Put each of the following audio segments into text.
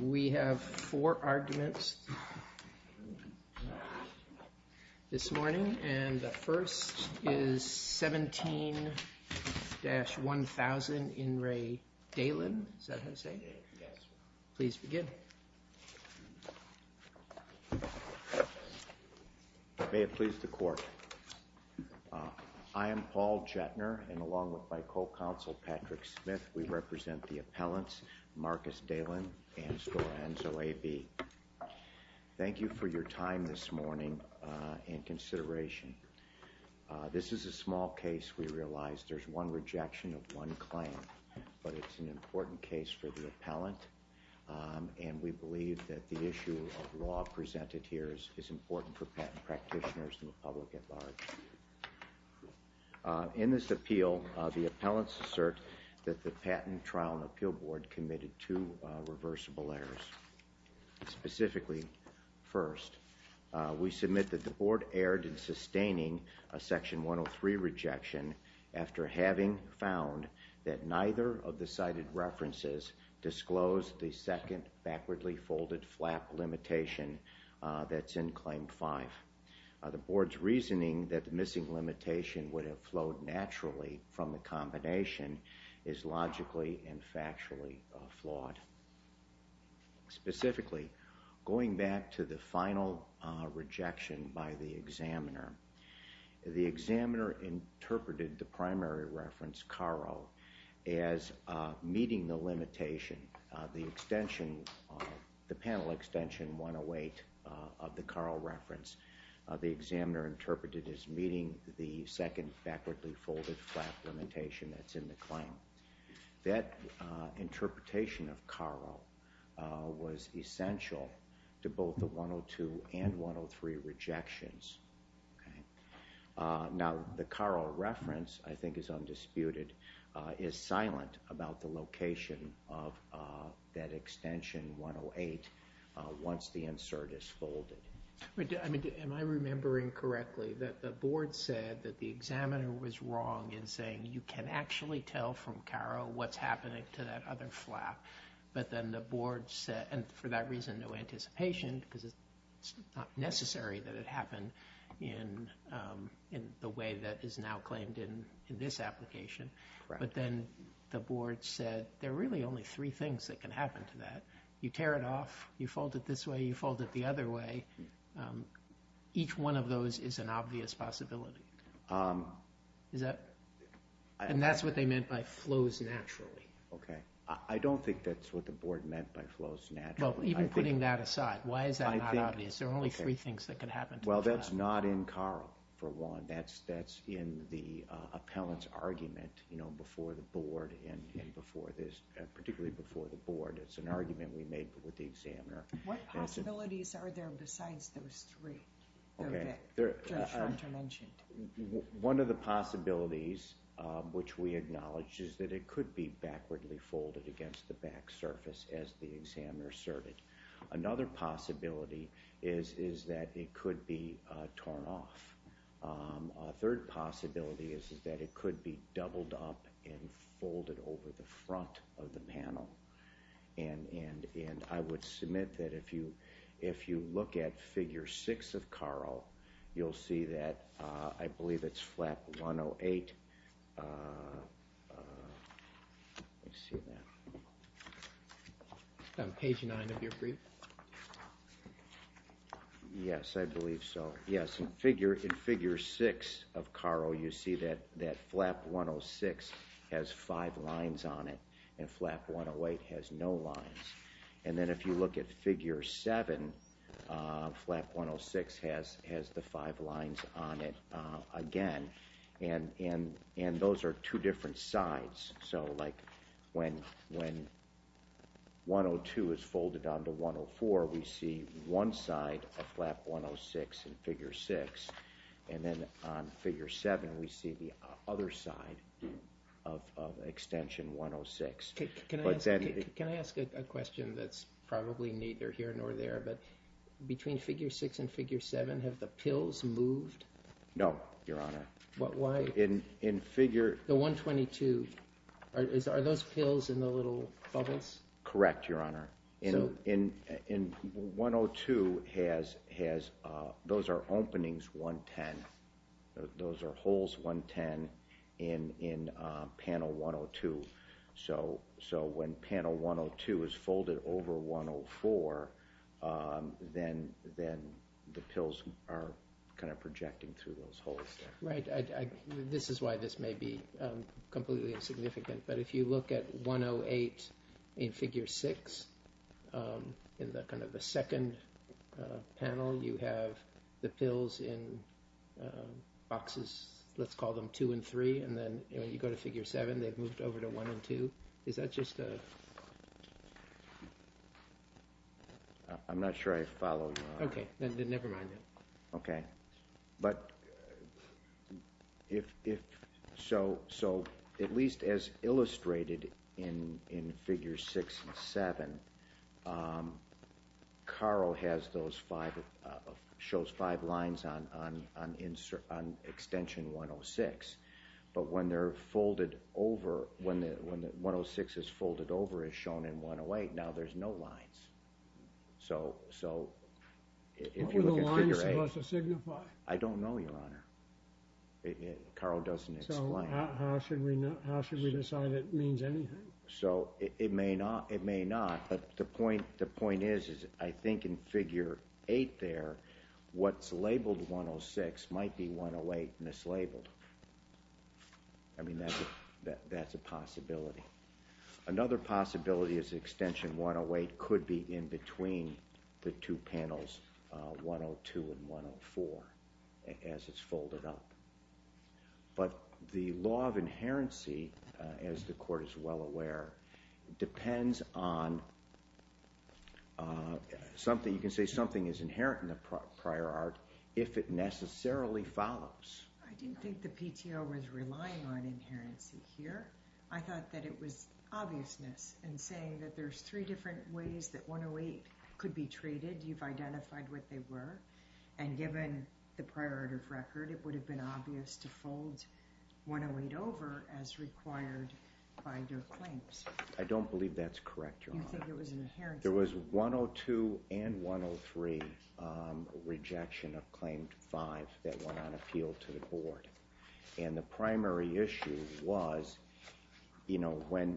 We have four arguments this morning, and the first is 17-1000 In Re Dehlin. Is that how you say it? Yes. Please begin. May it please the court. I am Paul Jettner, and along with my co-counsel, Patrick Smith, we represent the appellants Marcus Dehlin and Sorenzo A.B. Thank you for your time this morning and consideration. This is a small case. We realize there's one rejection of one claim, but it's an important case for the appellant, and we believe that the issue of law presented here is important for patent practitioners and the public at large. In this appeal, the appellants assert that the Patent Trial and Appeal Board committed two reversible errors. Specifically first, we submit that the board erred in sustaining a section 103 rejection after having found that neither of the cited references disclosed the second backwardly folded flap limitation that's in Claim 5. The board's reasoning that the missing limitation would have flowed naturally from the combination is logically and factually flawed. Specifically, going back to the final rejection by the examiner. The examiner interpreted the primary reference, CARO, as meeting the limitation. The extension, the panel extension 108 of the CARO reference, the examiner interpreted as meeting the second backwardly folded flap limitation that's in the claim. That interpretation of CARO was essential to both the 102 and 103 rejections. Now the CARO reference, I think is undisputed, is silent about the location of that extension 108 once the insert is folded. Am I remembering correctly that the board said that the examiner was wrong in saying you can actually tell from CARO what's happening to that other flap, but then the board said, and for that reason no anticipation, because it's not necessary that it happened in the way that is now claimed in this application, but then the board said there are really only three things that can happen to that. You tear it off, you fold it this way, you fold it the other way. Each one of those is an obvious possibility. Is that, and that's what they meant by flows naturally. Okay, I don't think that's what the board meant by flows naturally. Well, even putting that aside, why is that not obvious? There are only three things that can happen to the flap. Well, that's not in CARO, for one. That's in the appellant's argument, you know, before the board and before this, particularly before the board. It's an argument we made with the examiner. What possibilities are there besides those three? Okay, one of the possibilities, which we acknowledge, is that it could be backwardly folded against the back surface as the examiner asserted. Another possibility is that it could be torn off. A third possibility is that it could be doubled up and folded over the front of the panel. And I would submit that if you look at figure six of CARO, you'll see that, I believe it's flap 108. Let me see that. It's on page nine of your brief. Yes, I believe so. Yes, in figure six of CARO, you see that flap 106 has five lines on it, and flap 108 has no lines. And then if you look at figure seven, flap 106 has the five lines on it again. And those are two different sides. So, like, when 102 is folded onto 104, we see one side of flap 106 in figure six. And then on figure seven, we see the other side of extension 106. Can I ask a question that's probably neither here nor there? But between figure six and figure seven, have the pills moved? No, Your Honor. Why? In figure 122, are those pills in the little bubbles? Correct, Your Honor. In 102, those are openings 110. Those are holes 110 in panel 102. So when panel 102 is folded over 104, then the pills are kind of projecting through those holes. Right. This is why this may be completely insignificant. But if you look at 108 in figure six, in kind of the second panel, you have the pills in boxes, let's call them two and three. And then when you go to figure seven, they've moved over to one and two. Is that just a— I'm not sure I follow, Your Honor. Okay. Never mind then. Okay. But if—so at least as illustrated in figure six and seven, Caro has those five—shows five lines on extension 106. But when they're folded over, when 106 is folded over as shown in 108, now there's no lines. So if you look at figure eight— I don't know, Your Honor. Caro doesn't explain. So how should we decide it means anything? So it may not. But the point is, I think in figure eight there, what's labeled 106 might be 108 mislabeled. I mean, that's a possibility. Another possibility is extension 108 could be in between the two panels, 102 and 104, as it's folded up. But the law of inherency, as the Court is well aware, depends on something— you can say something is inherent in the prior art if it necessarily follows. I didn't think the PTO was relying on inherency here. I thought that it was obviousness in saying that there's three different ways that 108 could be treated. You've identified what they were. And given the prior art of record, it would have been obvious to fold 108 over as required by their claims. I don't believe that's correct, Your Honor. You think it was an inherent— There was 102 and 103 rejection of Claim 5 that went on appeal to the Board. And the primary issue was, you know, when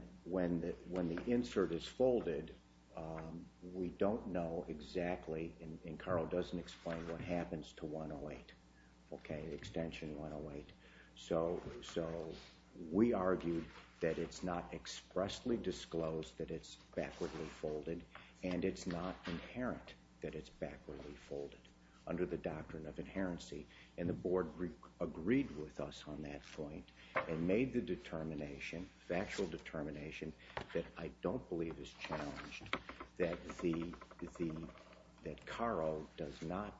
the insert is folded, we don't know exactly— and Carl doesn't explain what happens to 108, okay, extension 108. So we argued that it's not expressly disclosed that it's backwardly folded, and it's not inherent that it's backwardly folded under the doctrine of inherency. And the Board agreed with us on that point and made the determination, factual determination, that I don't believe is challenged, that Carl does not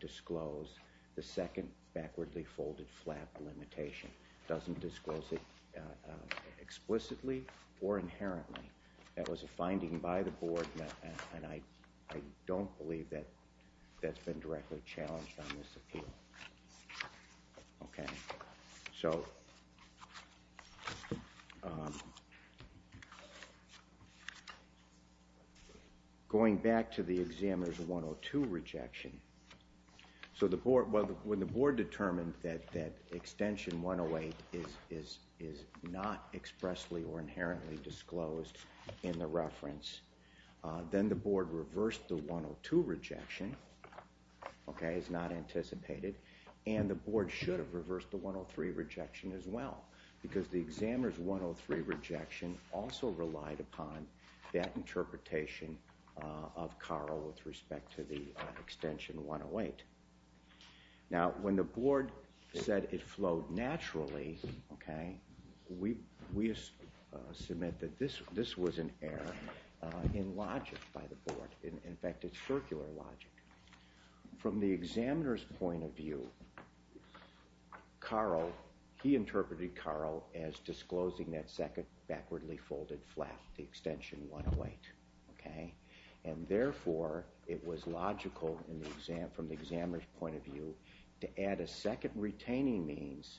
disclose the second backwardly folded flap limitation, doesn't disclose it explicitly or inherently. That was a finding by the Board, and I don't believe that that's been directly challenged on this appeal. Okay. So going back to the examiner's 102 rejection, so when the Board determined that extension 108 is not expressly or inherently disclosed in the reference, then the Board reversed the 102 rejection, okay, as not anticipated, and the Board should have reversed the 103 rejection as well, because the examiner's 103 rejection also relied upon that interpretation of Carl with respect to the extension 108. Now, when the Board said it flowed naturally, okay, we submit that this was an error in logic by the Board. In fact, it's circular logic. From the examiner's point of view, Carl, he interpreted Carl as disclosing that second backwardly folded flap, the extension 108, okay, and therefore it was logical from the examiner's point of view to add a second retaining means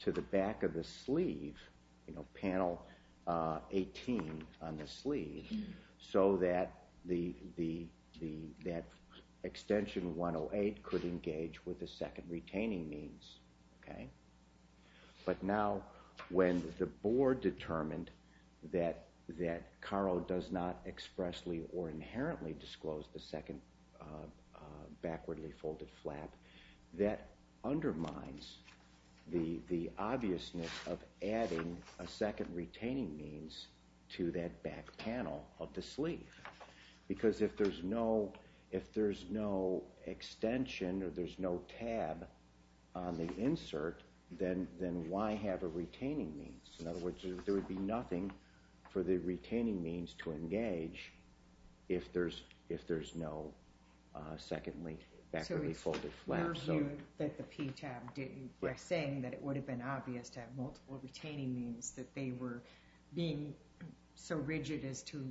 to the back of the sleeve, you know, panel 18 on the sleeve, so that the extension 108 could engage with the second retaining means, okay. But now when the Board determined that Carl does not expressly or inherently disclose the second backwardly folded flap, that undermines the obviousness of adding a second retaining means to that back panel of the sleeve, because if there's no extension or there's no tab on the insert, then why have a retaining means? In other words, there would be nothing for the retaining means to engage if there's no second backwardly folded flap. So it's your view that the P tab didn't, you're saying that it would have been obvious to have multiple retaining means, that they were being so rigid as to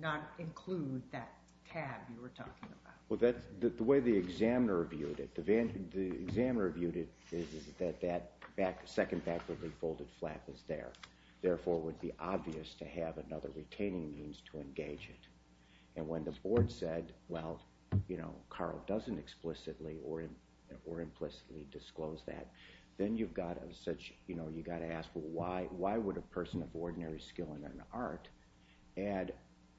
not include that tab you were talking about. Well, the way the examiner viewed it, the examiner viewed it is that that second backwardly folded flap is there, therefore it would be obvious to have another retaining means to engage it. And when the Board said, well, you know, Carl doesn't explicitly or implicitly disclose that, then you've got to ask, well, why would a person of ordinary skill and an art add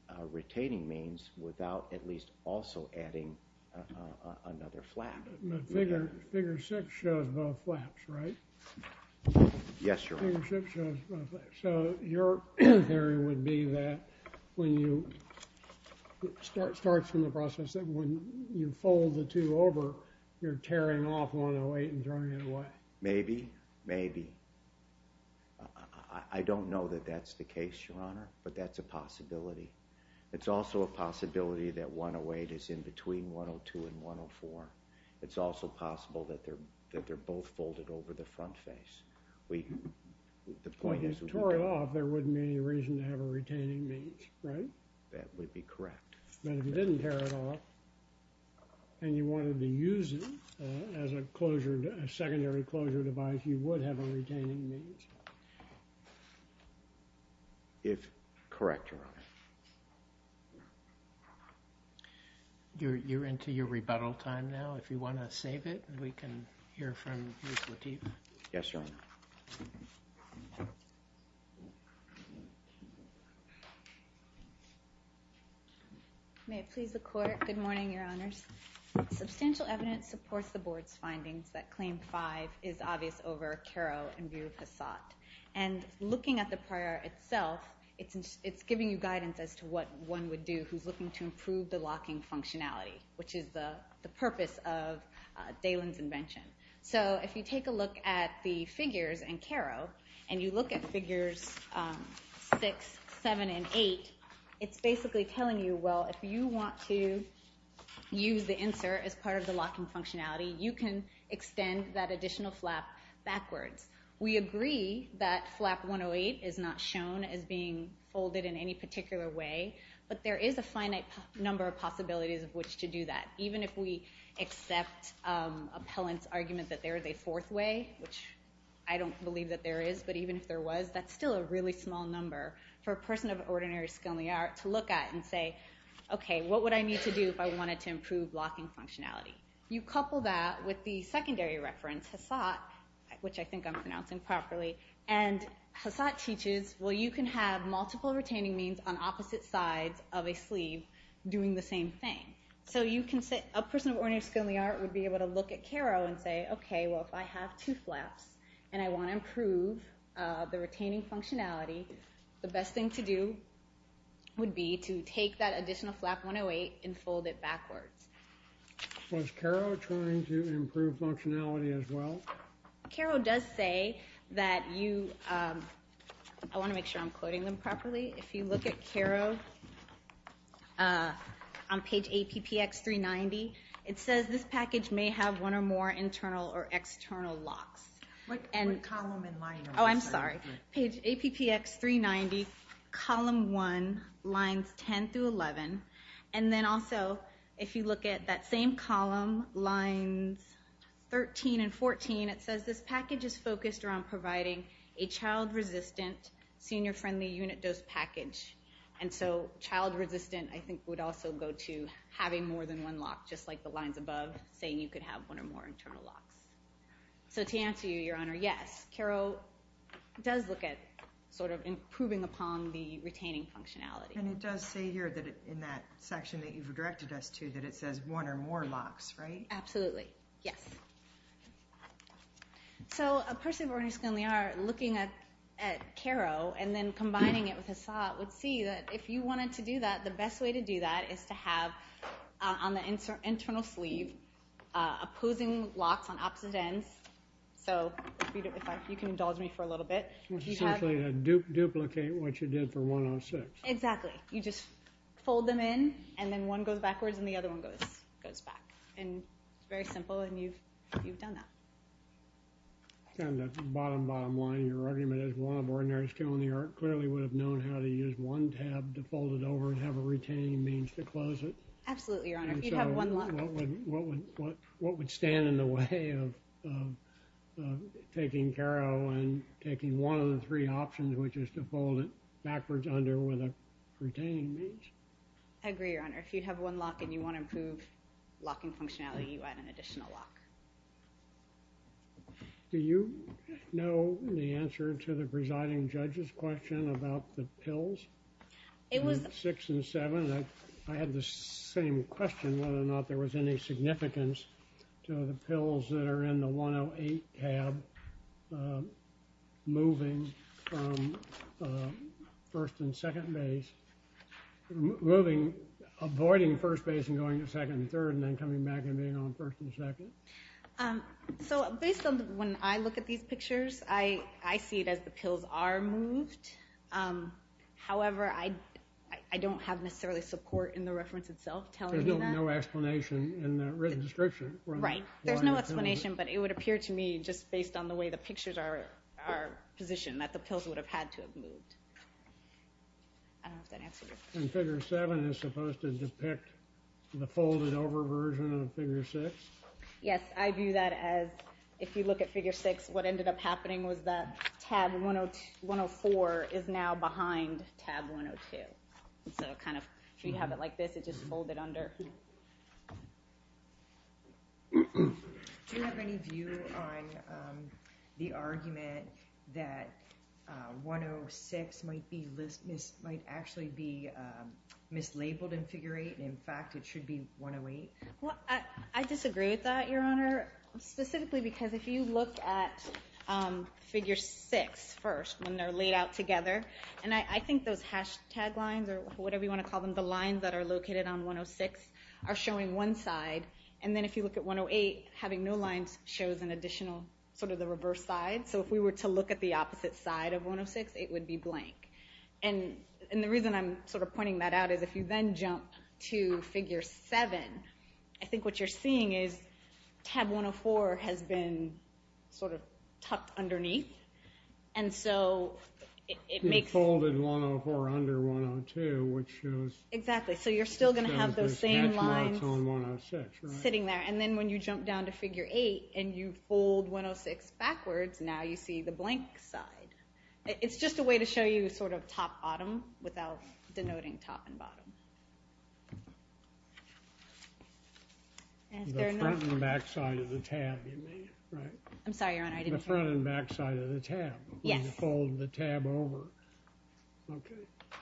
a retaining means without at least also adding another flap? But figure six shows both flaps, right? Yes, Your Honor. Figure six shows both flaps. So your theory would be that when you start from the process that when you fold the two over, you're tearing off 108 and throwing it away. Maybe, maybe. I don't know that that's the case, Your Honor, but that's a possibility. It's also a possibility that 108 is in between 102 and 104. It's also possible that they're both folded over the front face. If you tore it off, there wouldn't be any reason to have a retaining means, right? That would be correct. But if you didn't tear it off and you wanted to use it as a secondary closure device, you would have a retaining means. If correct, Your Honor. You're into your rebuttal time now. If you want to save it, we can hear from Ms. Lateef. Yes, Your Honor. May it please the Court. Good morning, Your Honors. Substantial evidence supports the Board's findings that Claim 5 is obvious over Carro and Virupasat. And looking at the prior itself, it's giving you guidance as to what one would do who's looking to improve the locking functionality, which is the purpose of Daylin's invention. So if you take a look at the figures and Carro, and you look at figures six, seven, and eight, it's basically telling you, well, if you want to use the insert as part of the locking functionality, you can extend that additional flap backwards. We agree that flap 108 is not shown as being folded in any particular way, but there is a finite number of possibilities of which to do that, even if we accept Appellant's argument that there is a fourth way, which I don't believe that there is, but even if there was, that's still a really small number. For a person of ordinary skill in the art to look at and say, okay, what would I need to do if I wanted to improve locking functionality? You couple that with the secondary reference, Hassat, which I think I'm pronouncing properly, and Hassat teaches, well, you can have multiple retaining means on opposite sides of a sleeve doing the same thing. So a person of ordinary skill in the art would be able to look at Carro and say, okay, well, if I have two flaps and I want to improve the retaining functionality, the best thing to do would be to take that additional flap 108 and fold it backwards. Was Carro trying to improve functionality as well? Carro does say that you, I want to make sure I'm quoting them properly, if you look at Carro on page APPX 390, it says this package may have one or more internal or external locks. What column and line are we talking about? Oh, I'm sorry. Page APPX 390, column 1, lines 10 through 11. And then also, if you look at that same column, lines 13 and 14, it says this package is focused around providing a child-resistant, senior-friendly unit dose package. And so child-resistant, I think, would also go to having more than one lock, just like the lines above saying you could have one or more internal locks. So to answer you, Your Honor, yes, Carro does look at sort of improving upon the retaining functionality. And it does say here in that section that you've directed us to that it says one or more locks, right? Absolutely, yes. So a person of ordinary skill and the art, looking at Carro and then combining it with a saw, would see that if you wanted to do that, the best way to do that is to have on the internal sleeve opposing locks on opposite ends. So if you can indulge me for a little bit. It's essentially to duplicate what you did for 106. Exactly. You just fold them in, and then one goes backwards, and the other one goes back. And it's very simple, and you've done that. And the bottom, bottom line, your argument is one of ordinary skill and the art clearly would have known how to use one tab to fold it over and have a retaining means to close it. Absolutely, Your Honor, if you'd have one lock. And so what would stand in the way of taking Carro and taking one of the three options, which is to fold it backwards under with a retaining means? I agree, Your Honor. If you have one lock and you want to improve locking functionality, you add an additional lock. Do you know the answer to the presiding judge's question about the pills? It was. Six and seven. I had the same question whether or not there was any significance to the pills that are in the 108 tab, moving from first and second base, moving, avoiding first base and going to second and third, and then coming back and being on first and second. So based on when I look at these pictures, I see it as the pills are moved. However, I don't have necessarily support in the reference itself telling me that. There's no explanation in the written description. Right. There's no explanation, but it would appear to me just based on the way the pictures are positioned that the pills would have had to have moved. I don't know if that answers your question. And figure seven is supposed to depict the folded over version of figure six? Yes. I view that as if you look at figure six, what ended up happening was that tab 104 is now behind tab 102. So if you have it like this, it's just folded under. Do you have any view on the argument that 106 might actually be mislabeled in figure eight, and, in fact, it should be 108? Well, I disagree with that, Your Honor, specifically because if you look at figure six first, when they're laid out together, and I think those hashtag lines or whatever you want to call them, the lines that are located on 106 are showing one side, and then if you look at 108, having no lines shows an additional sort of the reverse side. So if we were to look at the opposite side of 106, it would be blank. And the reason I'm sort of pointing that out is if you then jump to figure seven, I think what you're seeing is tab 104 has been sort of tucked underneath, and so it makes... Folded 104 under 102, which shows... Exactly. So you're still going to have those same lines sitting there. And then when you jump down to figure eight and you fold 106 backwards, now you see the blank side. It's just a way to show you sort of top-bottom without denoting top and bottom. The front and back side of the tab, you mean, right? I'm sorry, Your Honor, I didn't hear. The front and back side of the tab. Yes. When you fold the tab over. Okay.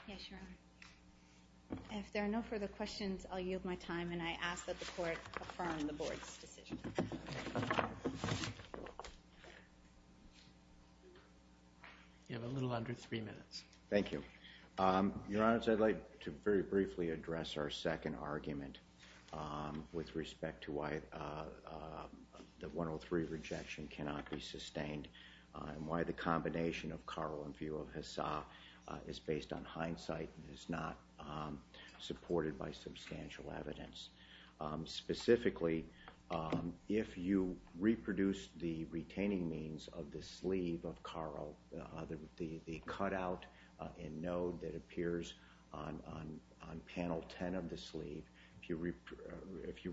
Yes, Your Honor. If there are no further questions, I'll yield my time, and I ask that the Court affirm the Board's decision. You have a little under three minutes. Thank you. Your Honor, I'd like to very briefly address our second argument with respect to why the 103 rejection cannot be sustained and why the combination of Karl and Viro Hisa is based on hindsight and is not supported by substantial evidence. Specifically, if you reproduce the retaining means of the sleeve of Karl, the cutout and node that appears on panel 10 of the sleeve, if you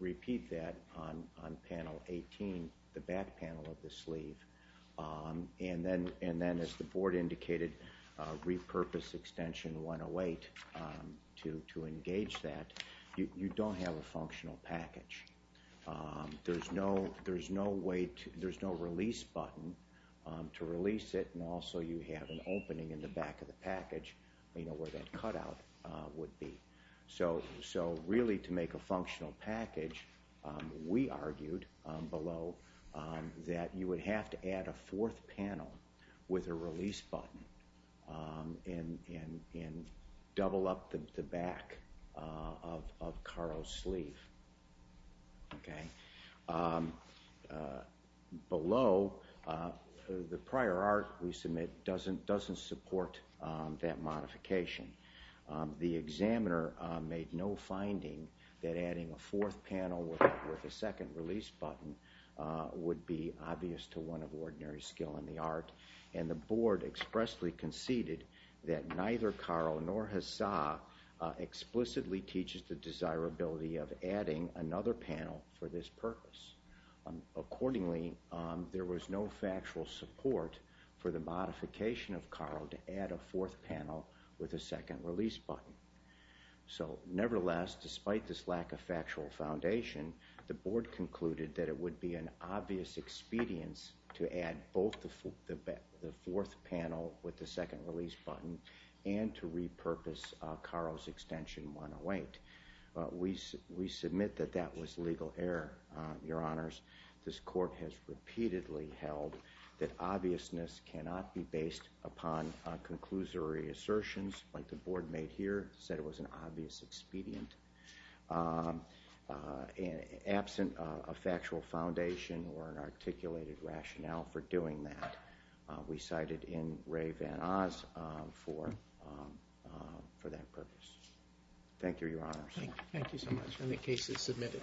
repeat that on panel 18, the back panel of the sleeve, and then as the Board indicated, repurpose extension 108 to engage that, you don't have a functional package. There's no release button to release it, and also you have an opening in the back of the package where that cutout would be. Really, to make a functional package, we argued below that you would have to add a fourth panel with a release button and double up the back of Karl's sleeve. Below, the prior art we submit doesn't support that modification. The examiner made no finding that adding a fourth panel with a second release button would be obvious to one of ordinary skill in the art, and the Board expressly conceded that neither Karl nor Hisa explicitly teaches the desirability of adding another panel for this purpose. Accordingly, there was no factual support for the modification of Karl to add a fourth panel with a second release button. Nevertheless, despite this lack of factual foundation, the Board concluded that it would be an obvious expedience to add both the fourth panel with the second release button and to repurpose Karl's extension 108. We submit that that was legal error, Your Honors. This Court has repeatedly held that obviousness cannot be based upon conclusory assertions like the Board made here, said it was an obvious expedient. Absent a factual foundation or an articulated rationale for doing that, we cited in Ray Van Oz for that purpose. Thank you, Your Honors. Thank you so much. And the case is submitted.